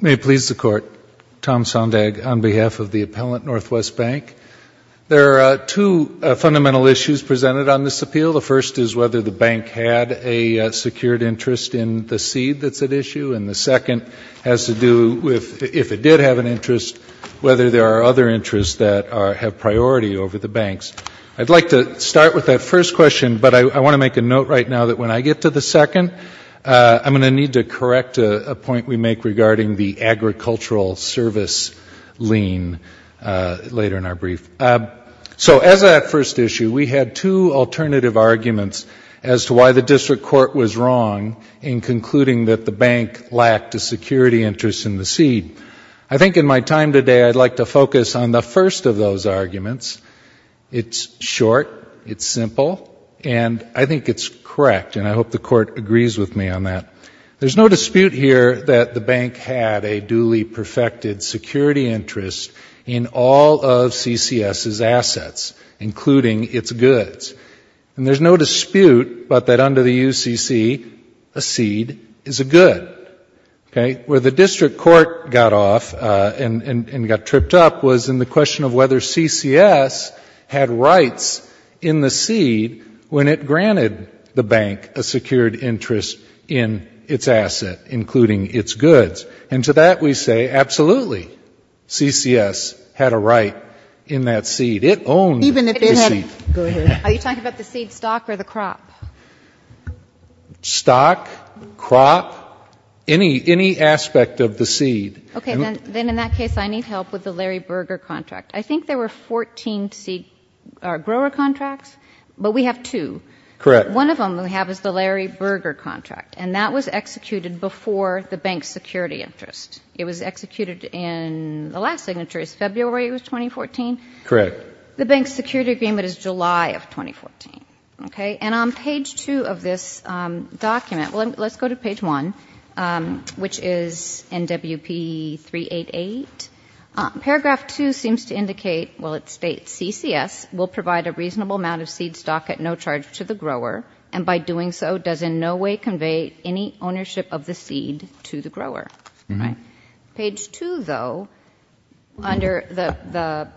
May it please the Court, Tom Sondag on behalf of the Appellant Northwest Bank. There are two fundamental issues presented on this appeal. The first is whether the bank had a secured interest in the seed that's at issue, and the second has to do with if it did have an interest, whether there are other interests that have priority over the banks. I'd like to start with that first question, but I want to make a note right now that when I get to the second, I'm going to need to correct a point we make regarding the agricultural service lien later in our brief. So as a first issue, we had two alternative arguments as to why the district court was wrong in concluding that the bank lacked a security interest in the seed. I think in my time today, I'd like to focus on the first of those arguments. It's short. It's simple. And I think it's correct, and I hope the Court agrees with me on that. There's no dispute here that the bank had a duly perfected security interest in all of CCS's assets, including its goods. And there's no dispute but that under the UCC, a seed is a good. Okay? Where the district court got off and got tripped up was in the question of whether CCS had rights in the seed when it granted the bank a secured interest in its asset, including its goods. And to that we say absolutely. CCS had a right in that seed. It owned the seed. Even if it hadn't. Go ahead. Are you talking about the seed stock or the crop? Stock, crop, any aspect of the seed. Okay. Then in that case, I need help with the Larry Berger contract. I think there were 14 seed grower contracts, but we have two. Correct. One of them we have is the Larry Berger contract, and that was executed before the bank's security interest. It was executed in the last signature. It was February 2014? Correct. The bank's security agreement is July of 2014. Okay? And on page two of this document, let's go to page one, which is NWP 388. Paragraph two seems to indicate, well it states, CCS will provide a reasonable amount of seed stock at no charge to the grower, and by doing so does in no way convey any ownership of the seed to the grower. Right. Page two, though, under the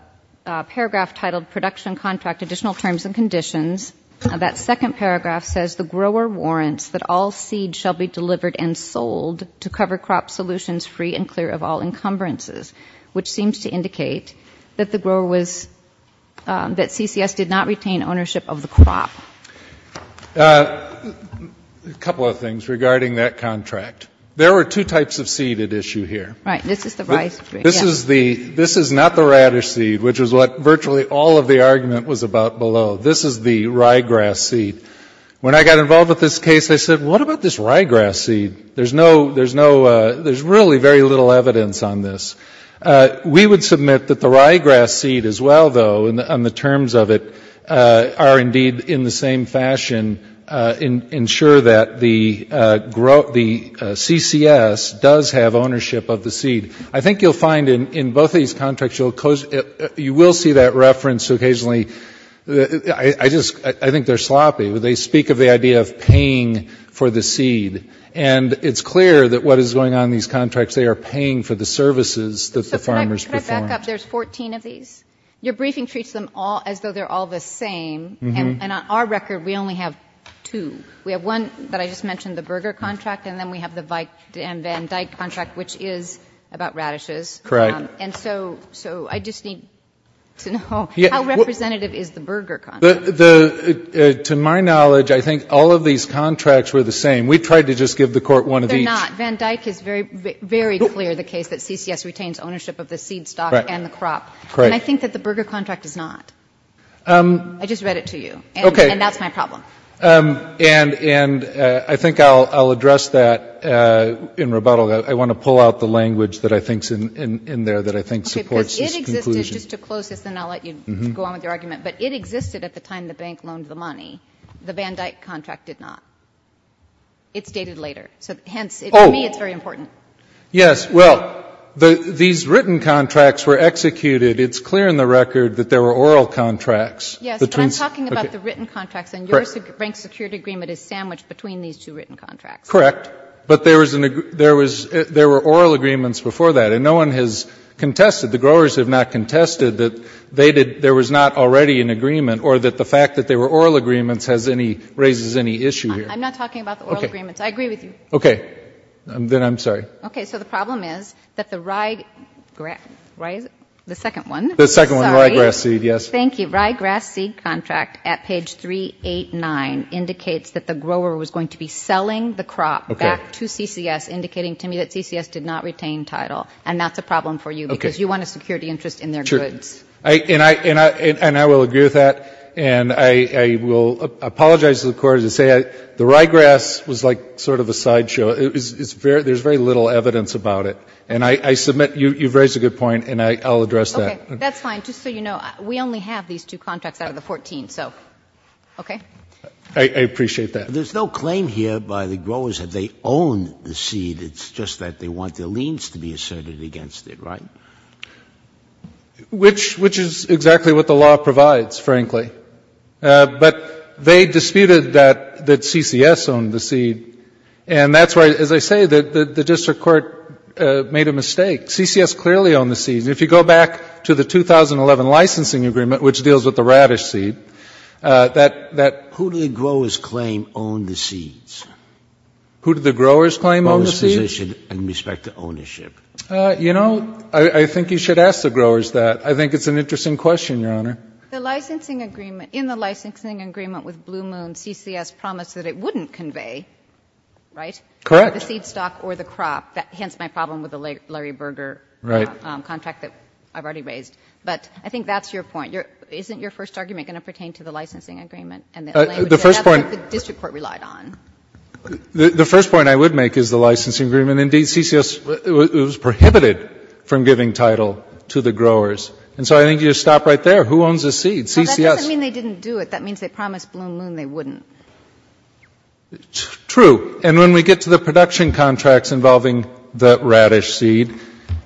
paragraph titled Production Contract Additional Terms and Conditions, that second paragraph says the grower warrants that all seed shall be delivered and sold to cover crop solutions free and clear of all encumbrances, which seems to indicate that the grower was, that CCS did not retain ownership of the crop. A couple of things regarding that contract. There were two types of seed at issue here. Right. This is the rye seed. This is the, this is not the radish seed, which is what virtually all of the argument was about below. This is the ryegrass seed. When I got involved with this case, I said, what about this ryegrass seed? There's no, there's no, there's really very little evidence on this. We would submit that the ryegrass seed as well, though, on the terms of it, are indeed in the same fashion ensure that the CCS does have ownership of the seed. I think you'll find in both of these contracts, you will see that reference occasionally. I just, I think they're sloppy. They speak of the idea of paying for the seed. And it's clear that what is going on in these contracts, they are paying for the services that the farmers perform. So can I put it back up? There's 14 of these. Your briefing treats them all as though they're all the same. And on our record, we only have two. We have one that I just mentioned, the Berger contract, and then we have the Van Dyck contract, which is about radishes. Correct. And so I just need to know, how representative is the Berger contract? To my knowledge, I think all of these contracts were the same. We tried to just give the Court one of each. They're not. Van Dyck is very, very clear, the case that CCS retains ownership of the seed stock and the crop. Correct. And I think that the Berger contract is not. I just read it to you. Okay. And that's my problem. And I think I'll address that in rebuttal. I want to pull out the language that I think is in there that I think supports this conclusion. Because it existed, just to close this and then I'll let you go on with your argument, but it existed at the time the bank loaned the money. The Van Dyck contract did not. It's dated later. So hence, to me, it's very important. Yes. Well, these written contracts were executed. It's clear in the record that there were oral contracts. Yes, but I'm talking about the written contracts. And your rank security agreement is sandwiched between these two written contracts. Correct. But there were oral agreements before that. And no one has contested the Grover and the growers have not contested that there was not already an agreement or that the fact that there were oral agreements raises any issue here. I'm not talking about the oral agreements. I agree with you. Okay. Then I'm sorry. Okay. So the problem is that the Ryegrass seed contract at page 389 indicates that the Grover was going to be selling the crop back to CCS, indicating to me that CCS did not retain title. And that's a problem for you because you want a security interest in their goods. And I will agree with that. And I will apologize to the Court. The Ryegrass was like sort of a sideshow. There's very little evidence about it. And I submit you've raised a good point, and I'll address that. Okay. That's fine. Just so you know, we only have these two contracts out of the 14. So, okay. I appreciate that. There's no claim here by the growers that they own the seed. It's just that they want their liens to be asserted against it, right? Which is exactly what the law provides, frankly. But they disputed that CCS owned the seed. And that's why, as I say, the district court made a mistake. CCS clearly owned the seed. And if you go back to the 2011 licensing agreement, which deals with the radish seed, that that... Who did the growers claim owned the seeds? Who did the growers claim owned the seeds? You know, I think you should ask the growers that. I think it's an interesting question, Your Honor. The licensing agreement, in the licensing agreement with Blue Moon, CCS promised that it wouldn't convey, right? Correct. The seed stock or the crop. Hence my problem with the Larry Berger contract that I've already raised. But I think that's your point. Isn't your first argument going to pertain to the licensing agreement? The first point... The first point of the licensing agreement, indeed, CCS was prohibited from giving title to the growers. And so I think you should stop right there. Who owns the seed? CCS. No, that doesn't mean they didn't do it. That means they promised Blue Moon they wouldn't. True. And when we get to the production contracts involving the radish seed,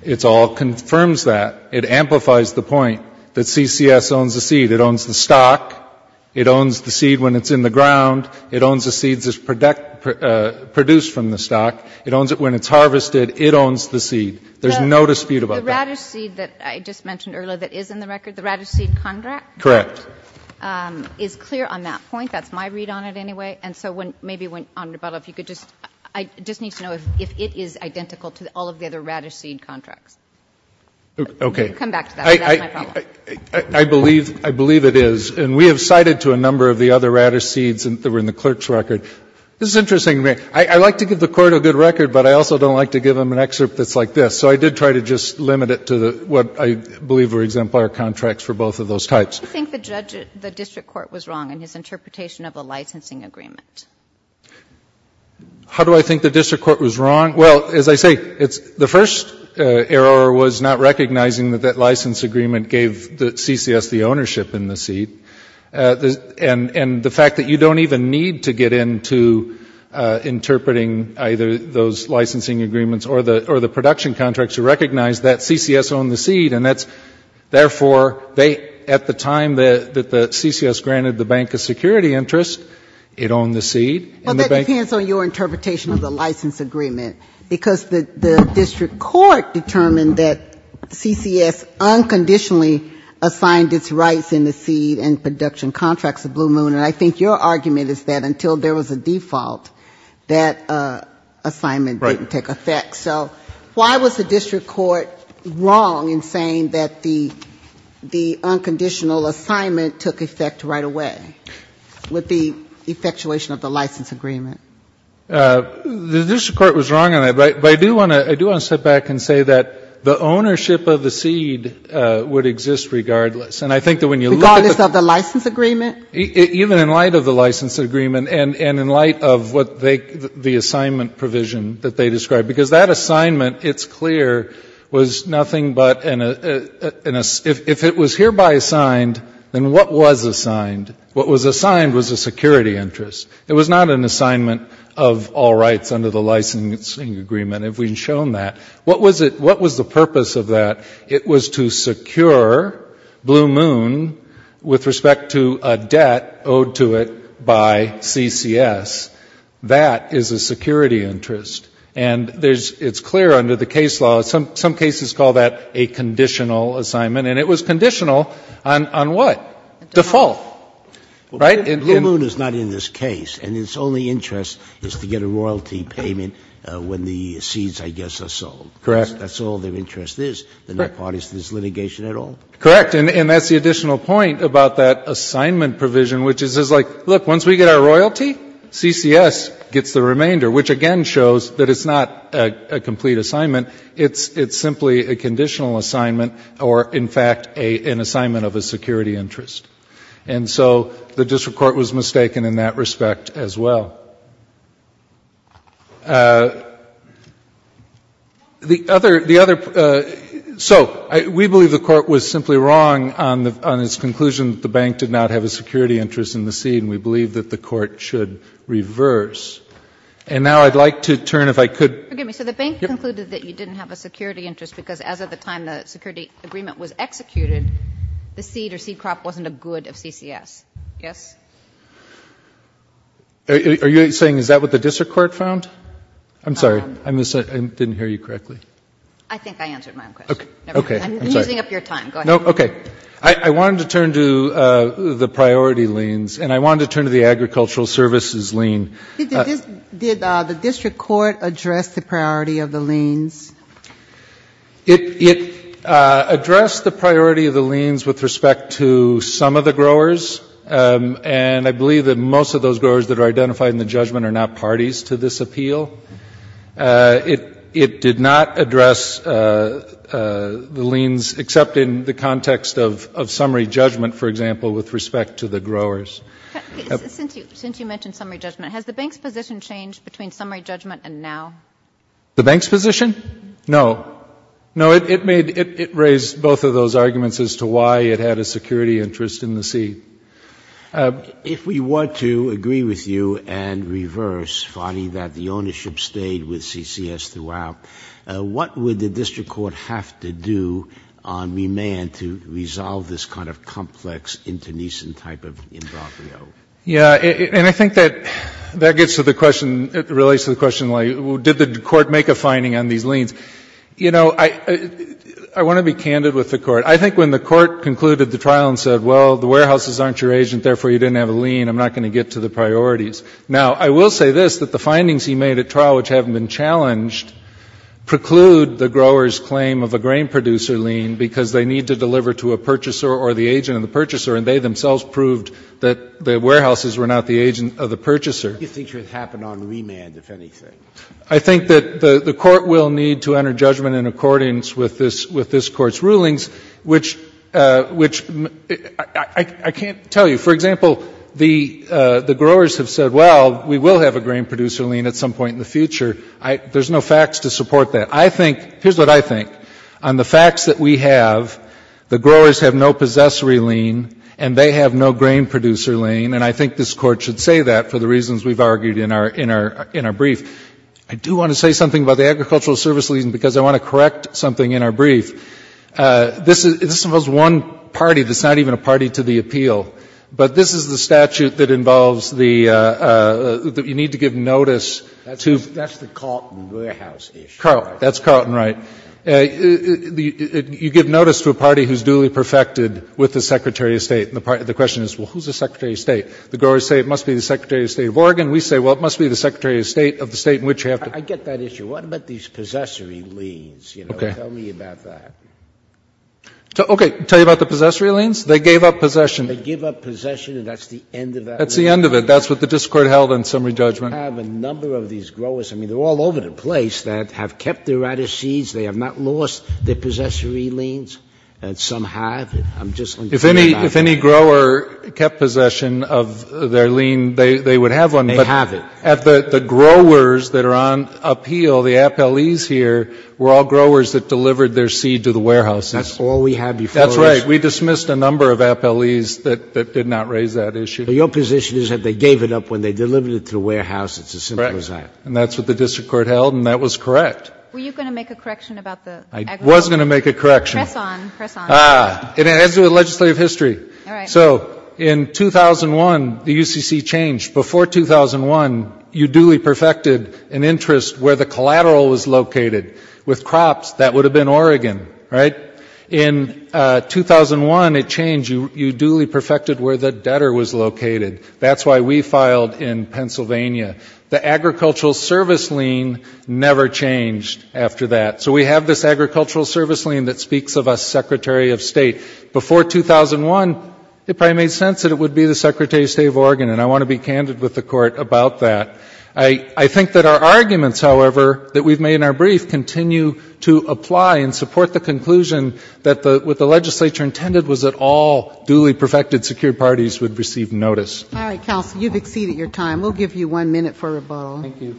it all confirms that. It amplifies the point that CCS owns the seed. It owns the stock. It owns the seed when it's in the ground. It owns the seeds as produced from the stock. It owns it when it's harvested. It owns the seed. There's no dispute about that. The radish seed that I just mentioned earlier that is in the record, the radish seed contract... Correct. ...is clear on that point. That's my read on it anyway. And so maybe, Your Honor, if you could just... I just need to know if it is identical to all of the other radish seed contracts. Okay. Come back to that. That's my problem. I believe it is. And we have cited to a number of the other radish seeds that were in the clerk's record. This is interesting. I like to give the Court a good record, but I also don't like to give them an excerpt that's like this. So I did try to just limit it to what I believe were exemplar contracts for both of those types. How do you think the district court was wrong in his interpretation of the licensing agreement? How do I think the district court was wrong? Well, as I say, the first error was not recognizing that that license agreement gave the CCS the ownership in the seed. And the fact that you don't even need to get into interpreting either those licensing agreements or the production contracts to recognize that CCS owned the seed, and that's therefore, at the time that the CCS granted the bank a security interest, it wasn't your interpretation of the license agreement, because the district court determined that CCS unconditionally assigned its rights in the seed and production contracts to Blue Moon, and I think your argument is that until there was a default, that assignment didn't take effect. So why was the district court wrong in saying that the unconditional assignment took effect right away with the effectuation of the license agreement? The district court was wrong on that, but I do want to step back and say that the ownership of the seed would exist regardless. And I think that when you look at the... Regardless of the license agreement? Even in light of the license agreement and in light of what they, the assignment provision that they described, because that assignment, it's clear, was nothing but an, if it was hereby assigned, then what was assigned? What was assigned was a security interest. It was not an assignment of all rights under the licensing agreement, if we've shown that. What was it, what was the purpose of that? It was to secure Blue Moon with respect to a debt owed to it by CCS. That is a security interest. And there's, it's clear under the case law, some cases call that a conditional assignment. And it was conditional on what? Default. Right? And Blue Moon is not in this case, and its only interest is to get a royalty payment when the seeds, I guess, are sold. Correct. That's all their interest is, the net parties to this litigation at all. Correct. And that's the additional point about that assignment provision, which is like, look, once we get our royalty, CCS gets the remainder, which again shows that it's not a complete assignment. It's simply a conditional assignment or, in fact, an assignment of a security interest. And so the district court was mistaken in that respect as well. The other, so we believe the Court was simply wrong on its conclusion that the bank did not have a security interest in the seed, and we believe that the Court should reverse. And now I'd like to turn, if I could. Forgive me. So the bank concluded that you didn't have a security interest because as of the time the security agreement was executed, the seed or seed crop wasn't a good of CCS, yes? Are you saying is that what the district court found? I'm sorry. I didn't hear you correctly. I think I answered my own question. I'm using up your time. Go ahead. No, okay. I wanted to turn to the priority liens, and I wanted to turn to the agricultural services lien. Did the district court address the priority of the liens? It addressed the priority of the liens with respect to some of the growers, and I believe that most of those growers that are identified in the judgment are not parties to this appeal. It did not address the liens except in the context of summary judgment, for example, with respect to the growers. Since you mentioned summary judgment, has the bank's position changed between summary judgment and now? The bank's position? No. No, it raised both of those arguments as to why it had a security interest in the seed. If we were to agree with you and reverse, Fadi, that the ownership stayed with CCS throughout, what would the district court have to do on remand to resolve this kind of complex, internecine type of involvement? Yeah, and I think that gets to the question, relates to the question, like, did the court make a finding on these liens? You know, I want to be candid with the court. I think when the court concluded the trial and said, well, the warehouses aren't your agent, therefore you didn't have a lien, I'm not going to get to the priorities. Now, I will say this, that the findings he made at trial, which haven't been challenged, preclude the grower's claim of a grain producer lien, because they need to deliver to a purchaser or the agent of the purchaser, and they themselves proved that the warehouses were not the agent of the purchaser. I think it should happen on remand, if anything. I think that the court will need to enter judgment in accordance with this court's rulings, which I can't tell you. For example, the growers have said, well, we will have a grain producer lien at some point in the future. There's no facts to support that. I think, here's what I think, on the facts that we have, the growers have no possessory lien, and they have no grain producer lien, and I think this Court should say that for the reasons we've argued in our brief. I do want to say something about the agricultural service lien, because I want to correct something in our brief. This involves one party that's not even a party to the appeal. But this is the statute that involves the need to give notice to the party who is duly perfected with the Secretary of State. And the question is, well, who's the Secretary of State? The growers say it must be the Secretary of State of Oregon. We say, well, it must be the Secretary of State of the State in which you have to be. I get that issue. What about these possessory liens? Okay. Tell me about that. Okay. Tell you about the possessory liens? They gave up possession. They gave up possession, and that's the end of that. That's the end of it. That's what the district court held in summary judgment. We have a number of these growers. I mean, they're all over the place that have kept their radish seeds. They have not lost their possessory liens, and some have. If any grower kept possession of their lien, they would have one. They have it. But the growers that are on appeal, the appellees here, were all growers that delivered their seed to the warehouses. That's all we have before us. That's right. We dismissed a number of appellees that did not raise that issue. But your position is that they gave it up when they delivered it to the warehouse. It's as simple as that. Correct. And that's what the district court held, and that was correct. Were you going to make a correction about the agribusiness? I was going to make a correction. Press on. It has to do with legislative history. All right. So in 2001, the UCC changed. Before 2001, you duly perfected an interest where the collateral was located. With crops, that would have been Oregon, right? In 2001, it changed. You duly perfected where the debtor was located. That's why we filed in Pennsylvania. The agricultural service lien never changed after that. So we have this agricultural service lien that speaks of a Secretary of State. Before 2001, it probably made sense that it would be the Secretary of State of Oregon, and I want to be candid with the court about that. I think that our arguments, however, that we've made in our brief, continue to apply and support the conclusion that what the legislature intended was that all duly perfected secured parties would receive notice. All right, counsel. You've exceeded your time. We'll give you one minute for rebuttal. Thank you.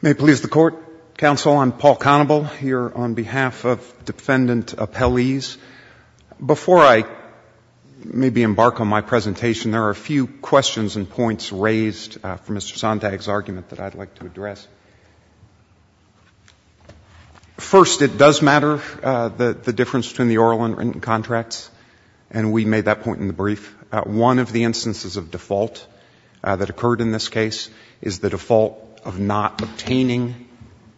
May it please the Court. Counsel, I'm Paul Conable here on behalf of Defendant Appellees. Before I maybe embark on my presentation, there are a few questions and points raised for Mr. Sontag's argument that I'd like to address. First, it does matter, the difference between the oral and written contracts, and we made that point in the brief. One of the instances of default that occurred in this case is the default of not obtaining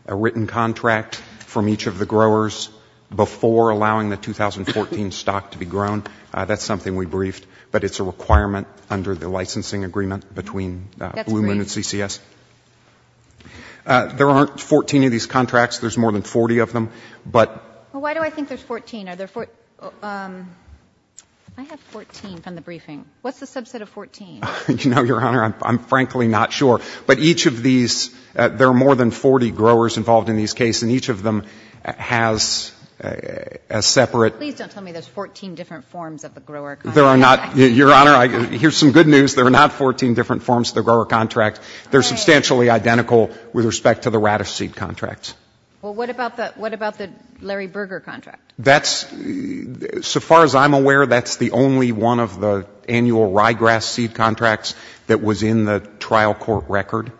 a written contract from each of the growers before allowing the 2014 stock to be grown. That's something we briefed, but it's a requirement under the licensing agreement between Blue Moon and CCS. There aren't 14 of these contracts. There's more than 40 of them. But why do I think there's 14? Are there 14? I have 14 from the briefing. What's the subset of 14? You know, Your Honor, I'm frankly not sure. But each of these, there are more than 40 growers involved in these cases, and each of them has a separate. Please don't tell me there's 14 different forms of the grower contract. There are not. Your Honor, here's some good news. There are not 14 different forms of the grower contract. They're substantially identical with respect to the radish seed contracts. Well, what about the Larry Berger contract? That's, so far as I'm aware, that's the only one of the annual ryegrass seed contracts that was in the trial court record.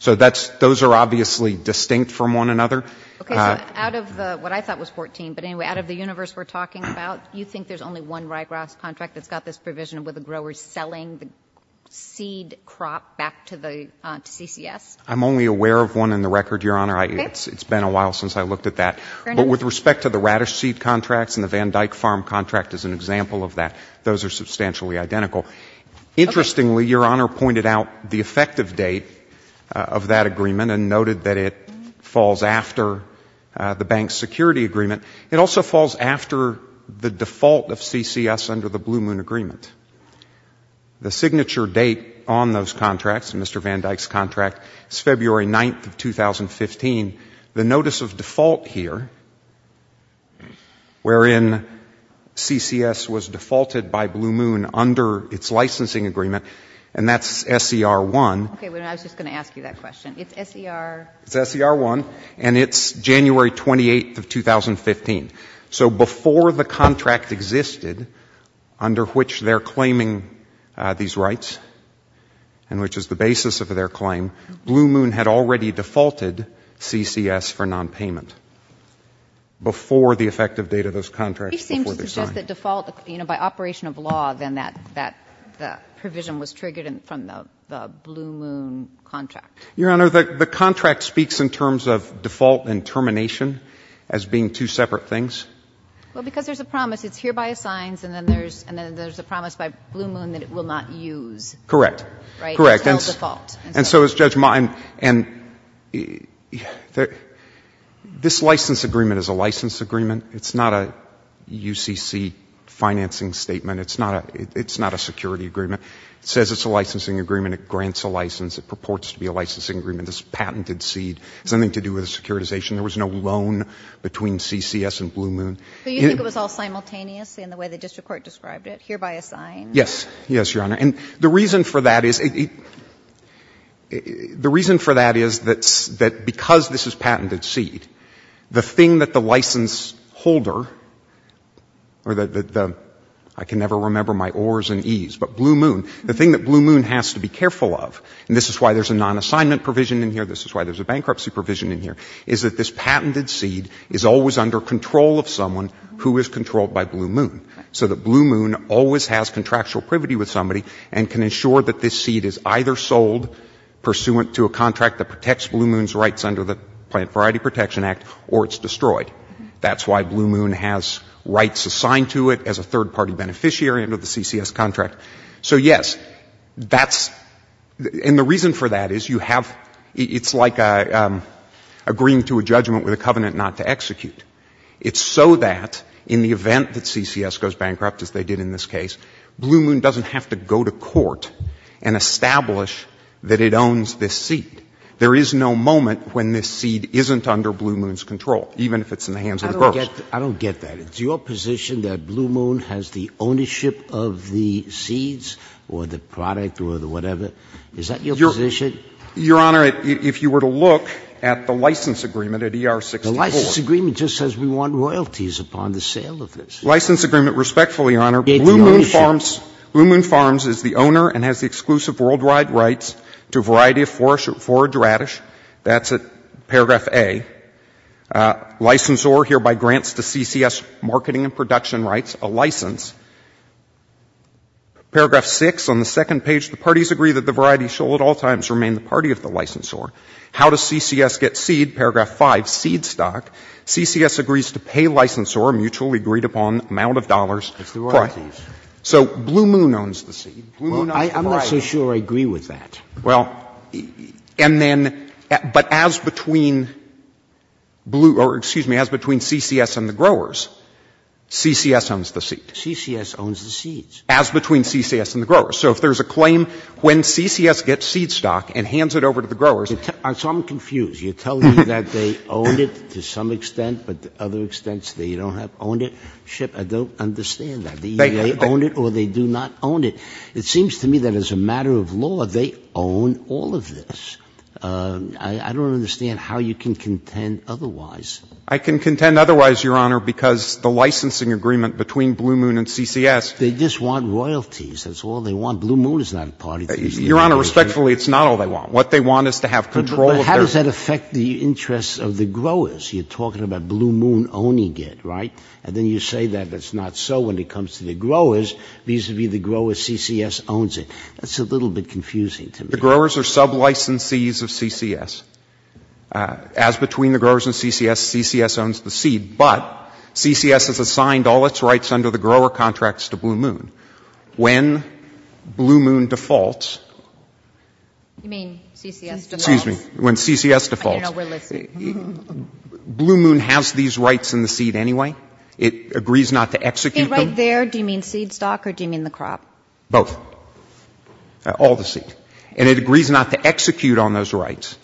So those are obviously distinct from one another. Okay. So out of what I thought was 14, but anyway, out of the universe we're talking about, you think there's only one ryegrass contract that's got this provision where the grower is selling the seed crop back to the CCS? I'm only aware of one in the record, Your Honor. It's been a while since I looked at that. But with respect to the radish seed contracts and the Van Dyck Farm contract as an example of that, those are substantially identical. Interestingly, Your Honor pointed out the effective date of that agreement and noted that it falls after the bank's security agreement. It also falls after the default of CCS under the Blue Moon agreement. The signature date on those contracts, Mr. Van Dyck's contract, is February 9th of 2015. The notice of default here, wherein CCS was defaulted by Blue Moon under its licensing agreement, and that's SER1. Okay. I was just going to ask you that question. It's SER? It's SER1, and it's January 28th of 2015. So before the contract existed under which they're claiming these rights and which is the basis of their claim, Blue Moon had already defaulted CCS for nonpayment before the effective date of those contracts, before they signed. It seems to suggest that default, you know, by operation of law, then that provision was triggered from the Blue Moon contract. Your Honor, the contract speaks in terms of default and termination as being two separate things. Well, because there's a promise. It's hereby assigned, and then there's a promise by Blue Moon that it will not use. Correct. Right? Correct. Until default. And so is Judge Ma. And this license agreement is a license agreement. It's not a UCC financing statement. It's not a security agreement. It says it's a licensing agreement. It grants a license. It purports to be a licensing agreement. It's a patented seed. It has nothing to do with a securitization. There was no loan between CCS and Blue Moon. So you think it was all simultaneous in the way the district court described it, hereby assigned? Yes. Yes, Your Honor. And the reason for that is it — the reason for that is that because this is patented seed, the thing that the license holder or the — I can never remember my O's and E's, but Blue Moon. The thing that Blue Moon has to be careful of, and this is why there's a non-assignment provision in here, this is why there's a bankruptcy provision in here, is that this patented seed is always under control of someone who is controlled by Blue Moon. So that Blue Moon always has contractual privity with somebody and can ensure that this seed is either sold pursuant to a contract that protects Blue Moon's rights under the Plant Variety Protection Act or it's destroyed. That's why Blue Moon has rights assigned to it as a third-party beneficiary under the CCS contract. So, yes, that's — and the reason for that is you have — it's like agreeing to a judgment with a covenant not to execute. It's so that in the event that CCS goes bankrupt, as they did in this case, Blue Moon doesn't have to go to court and establish that it owns this seed. There is no moment when this seed isn't under Blue Moon's control, even if it's in the hands of the courts. I don't get that. It's your position that Blue Moon has the ownership of the seeds or the product or the whatever? Is that your position? Your Honor, if you were to look at the license agreement at ER-64. The license agreement just says we want royalties upon the sale of this. License agreement, respectfully, Your Honor. Blue Moon Farms is the owner and has the exclusive worldwide rights to a variety of forage radish. That's at paragraph A. Licensor hereby grants to CCS marketing and production rights a license. Paragraph 6, on the second page, the parties agree that the variety shall at all times remain the party of the licensor. How does CCS get seed? Paragraph 5, seed stock. CCS agrees to pay licensor a mutually agreed upon amount of dollars. It's the royalties. So Blue Moon owns the seed. Blue Moon owns the variety. I'm not so sure I agree with that. Well, and then, but as between Blue, or excuse me, as between CCS and the growers, CCS owns the seed. CCS owns the seeds. As between CCS and the growers. So if there's a claim when CCS gets seed stock and hands it over to the growers So I'm confused. You're telling me that they own it to some extent, but to other extents they don't have ownership? I don't understand that. They own it or they do not own it. It seems to me that as a matter of law, they own all of this. I don't understand how you can contend otherwise. I can contend otherwise, Your Honor, because the licensing agreement between Blue Moon and CCS. They just want royalties. That's all they want. Blue Moon is not a party to CCS. Your Honor, respectfully, it's not all they want. What they want is to have control of their But how does that affect the interests of the growers? You're talking about Blue Moon owning it, right? And then you say that it's not so when it comes to the growers, vis-à-vis the growers CCS owns it. That's a little bit confusing to me. The growers are sub-licensees of CCS. As between the growers and CCS, CCS owns the seed. But CCS has assigned all its rights under the grower contracts to Blue Moon. When Blue Moon defaults. You mean CCS defaults? Excuse me. When CCS defaults. I didn't know we're listening. Blue Moon has these rights in the seed anyway. It agrees not to execute them. Right there, do you mean seed stock or do you mean the crop? Both. All the seed. And it agrees not to execute on those rights.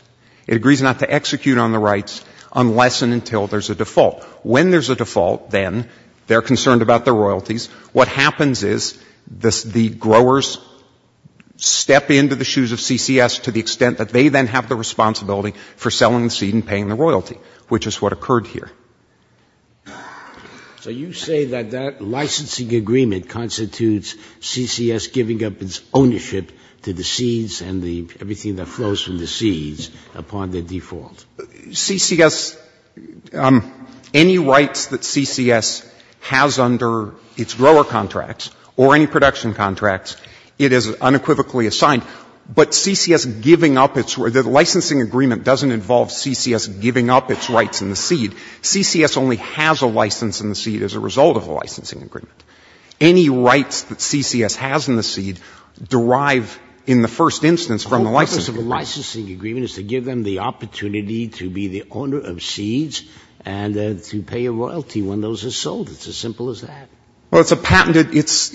It agrees not to execute on the rights unless and until there's a default. When there's a default, then, they're concerned about their royalties. What happens is the growers step into the shoes of CCS to the extent that they then have the responsibility for selling the seed and paying the royalty, which is what occurred here. So you say that that licensing agreement constitutes CCS giving up its ownership to the seeds and everything that flows from the seeds upon their default. CCS, any rights that CCS has under its grower contracts or any production contracts, it is unequivocally assigned. But the licensing agreement doesn't involve CCS giving up its rights in the seed. CCS only has a license in the seed as a result of a licensing agreement. Any rights that CCS has in the seed derive in the first instance from the licensing agreement. The whole purpose of a licensing agreement is to give them the opportunity to be the owner of seeds and to pay a royalty when those are sold. It's as simple as that. Well, it's a patented, it's,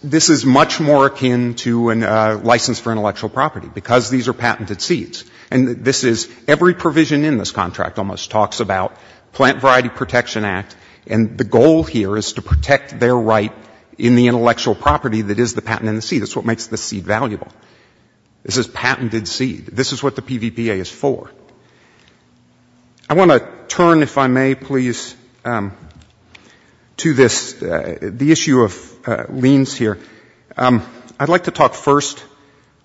this is much more akin to a license for intellectual property, because these are patented seeds. And this is, every provision in this contract almost talks about plant variety protection act, and the goal here is to protect their right in the intellectual property that is the patent in the seed. That's what makes the seed valuable. This is patented seed. This is what the PVPA is for. I want to turn, if I may, please, to this, the issue of liens here. I'd like to talk first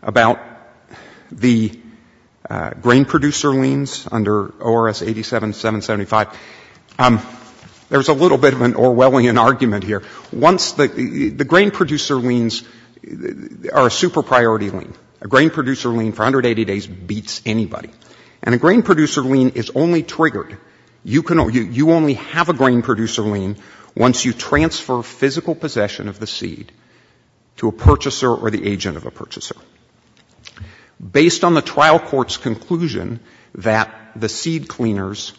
about the grain producer liens under ORS 87-775. There's a little bit of an Orwellian argument here. Once the, the grain producer liens are a super priority lien. A grain producer lien for 180 days beats anybody. And a grain producer lien is only triggered, you can only, you only have a grain producer lien once you transfer physical possession of the seed to a purchaser or the agent of a purchaser. Based on the trial court's conclusion that the seed cleaners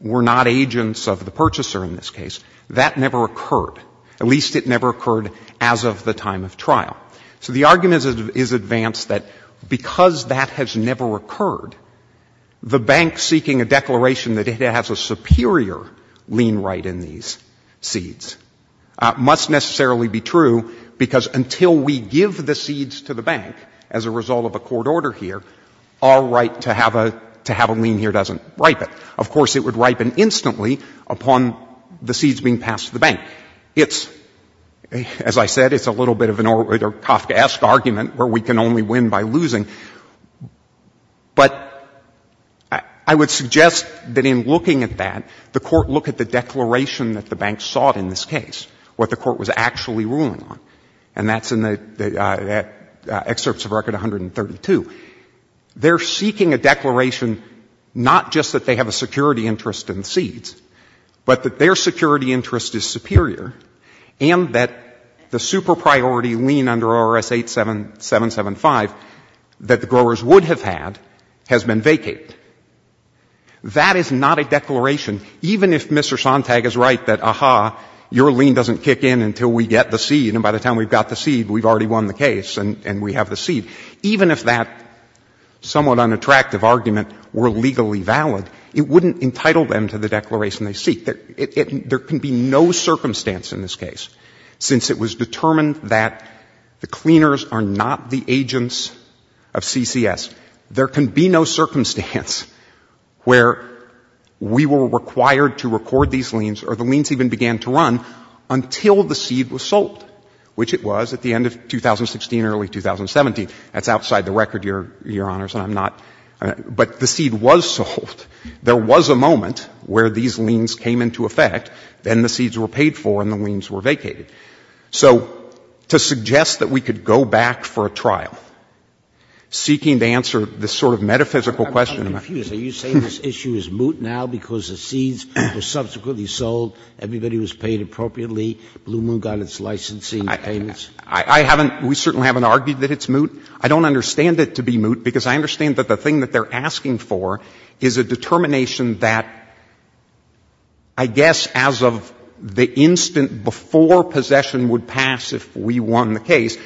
were not agents of the purchaser in this case, that never occurred. At least it never occurred as of the time of trial. So the argument is advanced that because that has never occurred, the bank seeking a declaration that it has a superior lien right in these seeds must necessarily be true because until we give the seeds to the bank as a result of a court order here, our right to have a, to have a lien here doesn't ripen. Of course, it would ripen instantly upon the seeds being passed to the bank. It's, as I said, it's a little bit of a Kafkaesque argument where we can only win by losing. But I would suggest that in looking at that, the court look at the declaration that the bank sought in this case, what the court was actually ruling on. And that's in the excerpts of Record 132. They're seeking a declaration not just that they have a security interest in seeds, but that their security interest is superior and that the super priority lien under R.S. 8775 that the growers would have had has been vacated. That is not a declaration, even if Mr. Sontag is right that, aha, your lien doesn't kick in until we get the seed, and by the time we've got the seed, we've already won the case and we have the seed. Even if that somewhat unattractive argument were legally valid, it wouldn't entitle them to the declaration they seek. There can be no circumstance in this case, since it was determined that the cleaners are not the agents of CCS, there can be no circumstance where we were required to record these liens, or the liens even began to run, until the seed was sold, which it was at the end of 2016, early 2017. That's outside the record, Your Honors, and I'm not — but the seed was sold. There was a moment where these liens came into effect, then the seeds were paid for and the liens were vacated. So to suggest that we could go back for a trial, seeking to answer this sort of metaphysical question of — Sotomayor, are you saying this issue is moot now because the seeds were subsequently sold, everybody was paid appropriately, Blue Moon got its licensing payments? I haven't — we certainly haven't argued that it's moot. I don't understand it to be moot, because I understand that the thing that they're asking for is a determination that, I guess, as of the instant before possession would pass if we won the case,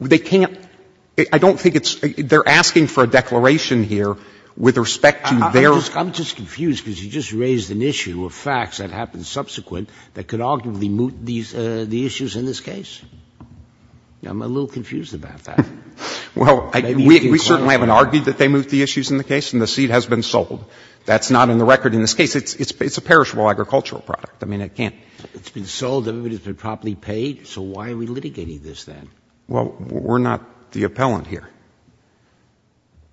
they can't — I don't think it's — they're asking for a declaration here with respect to their — I'm just confused, because you just raised an issue of facts that happened subsequent that could arguably moot these — the issues in this case. I'm a little confused about that. Well, we certainly haven't argued that they moot the issues in the case and the seed has been sold. That's not in the record in this case. It's a perishable agricultural product. I mean, it can't — It's been sold, everybody's been properly paid, so why are we litigating this then? Well, we're not the appellant here.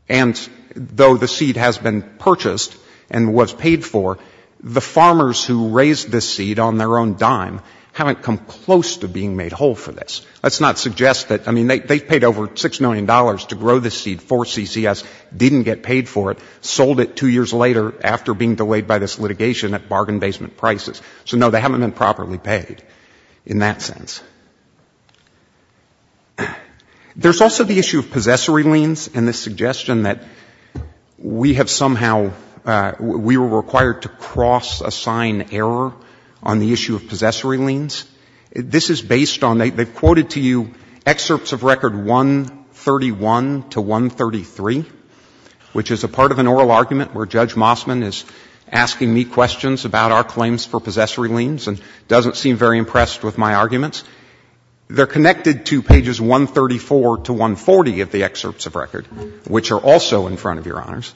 And though the seed has been purchased and was paid for, the farmers who raised this seed on their own dime haven't come close to being made whole for this. Let's not suggest that — I mean, they've paid over $6 million to grow this seed for CCS, didn't get paid for it, sold it two years later after being delayed by this litigation at bargain basement prices. So, no, they haven't been properly paid in that sense. There's also the issue of possessory liens and the suggestion that we have somehow — that we have somehow lost a sign error on the issue of possessory liens. This is based on — they've quoted to you excerpts of record 131 to 133, which is a part of an oral argument where Judge Mossman is asking me questions about our claims for possessory liens and doesn't seem very impressed with my arguments. They're connected to pages 134 to 140 of the excerpts of record, which are also in front of you, Your Honors,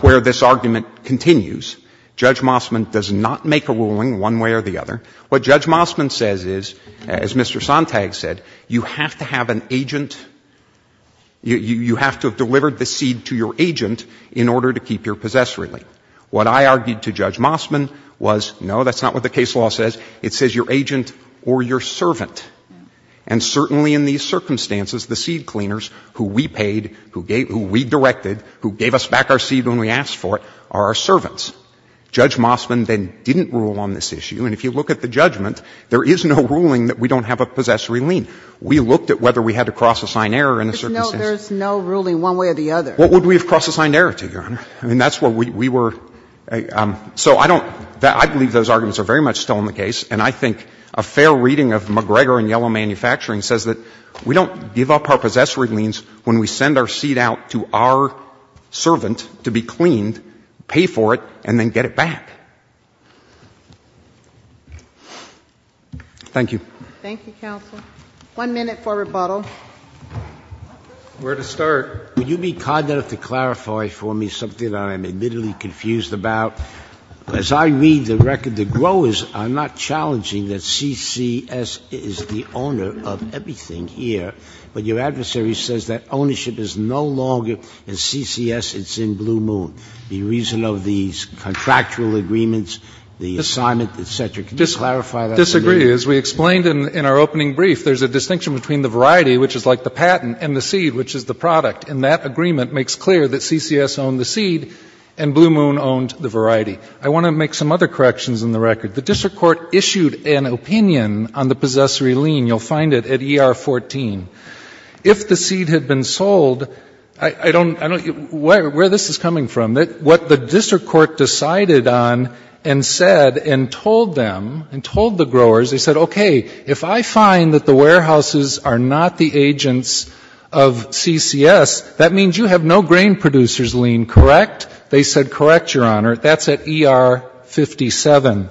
where this argument continues. Judge Mossman does not make a ruling one way or the other. What Judge Mossman says is, as Mr. Sontag said, you have to have an agent — you have to have delivered the seed to your agent in order to keep your possessory lien. What I argued to Judge Mossman was, no, that's not what the case law says. It says your agent or your servant. And certainly in these circumstances, the seed cleaners who we paid, who we directed, who gave us back our seed when we asked for it, are our servants. Judge Mossman then didn't rule on this issue, and if you look at the judgment, there is no ruling that we don't have a possessory lien. We looked at whether we had to cross-assign error in a certain sense. There's no ruling one way or the other. What would we have cross-assigned error to, Your Honor? I mean, that's what we were — so I don't — I believe those arguments are very much still in the case. And I think a fair reading of McGregor and Yellow Manufacturing says that we don't give up our possessory liens when we send our seed out to our servant to be cleaned, pay for it, and then get it back. Thank you. Thank you, counsel. One minute for rebuttal. Where to start? Would you be cognizant to clarify for me something that I'm admittedly confused about? As I read the record, the growers are not challenging that CCS is the owner of everything here, but your adversary says that ownership is no longer in CCS, it's in Blue Moon. The reason of these contractual agreements, the assignment, et cetera, can you clarify that for me? I disagree. As we explained in our opening brief, there's a distinction between the variety, which is like the patent, and the seed, which is the product. And that agreement makes clear that CCS owned the seed and Blue Moon owned the variety. I want to make some other corrections in the record. The district court issued an opinion on the possessory lien. You'll find it at ER 14. If the seed had been sold, I don't, where this is coming from, what the district court decided on and said and told them and told the growers, they said, okay, if I find that the warehouses are not the agents of CCS, that means you have no grain producers lien, correct? They said, correct, Your Honor. That's at ER 57.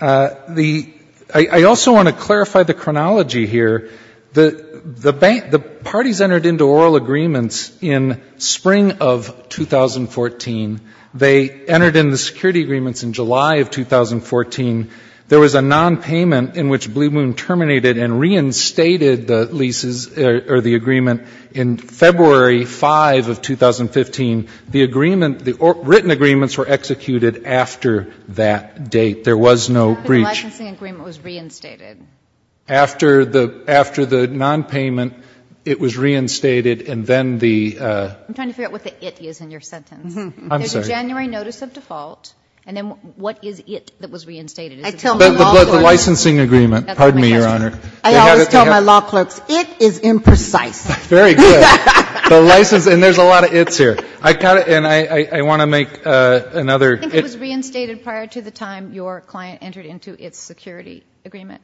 The, I also want to clarify the chronology here. The parties entered into oral agreements in spring of 2014. They entered into security agreements in July of 2014. There was a nonpayment in which Blue Moon terminated and reinstated the leases or the agreement in February 5 of 2015. The agreement, the written agreements were executed after that date. There was no breach. The licensing agreement was reinstated. After the nonpayment, it was reinstated, and then the ‑‑ I'm trying to figure out what the it is in your sentence. I'm sorry. January notice of default, and then what is it that was reinstated? The licensing agreement. Pardon me, Your Honor. I always tell my law clerks, it is imprecise. Very good. The license, and there's a lot of it's here. I want to make another. I think it was reinstated prior to the time your client entered into its security agreement.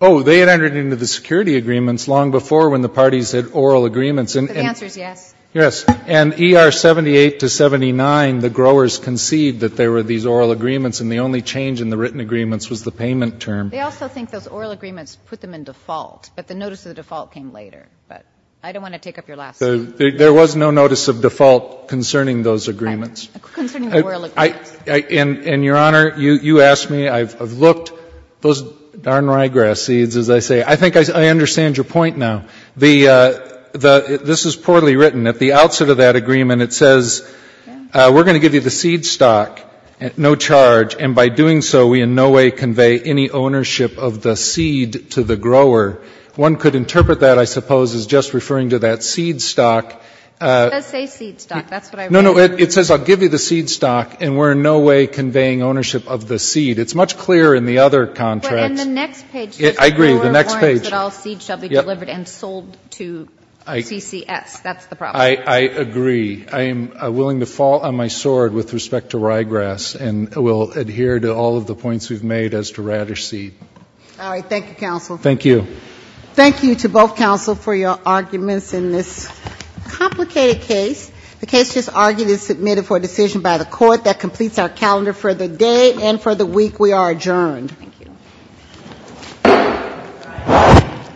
Oh, they had entered into the security agreements long before when the parties had oral agreements. The answer is yes. Yes. And ER 78 to 79, the growers conceived that there were these oral agreements, and the only change in the written agreements was the payment term. They also think those oral agreements put them in default, but the notice of default came later. But I don't want to take up your last statement. There was no notice of default concerning those agreements. Concerning the oral agreements. And, Your Honor, you asked me. I've looked. Those darn ryegrass seeds, as I say. I think I understand your point now. This is poorly written. At the outset of that agreement, it says we're going to give you the seed stock, no charge, and by doing so, we in no way convey any ownership of the seed to the grower. One could interpret that, I suppose, as just referring to that seed stock. It does say seed stock. That's what I read. No, no. It says I'll give you the seed stock, and we're in no way conveying ownership of the seed. It's much clearer in the other contracts. But in the next page. I agree. The next page. It says that all seeds shall be delivered and sold to CCS. That's the problem. I agree. I am willing to fall on my sword with respect to ryegrass, and will adhere to all of the points we've made as to radish seed. All right. Thank you, counsel. Thank you. Thank you to both counsel for your arguments in this complicated case. The case just argued is submitted for decision by the court. That completes our calendar for the day and for the week. We are adjourned. Thank you. Thank you. Thank you.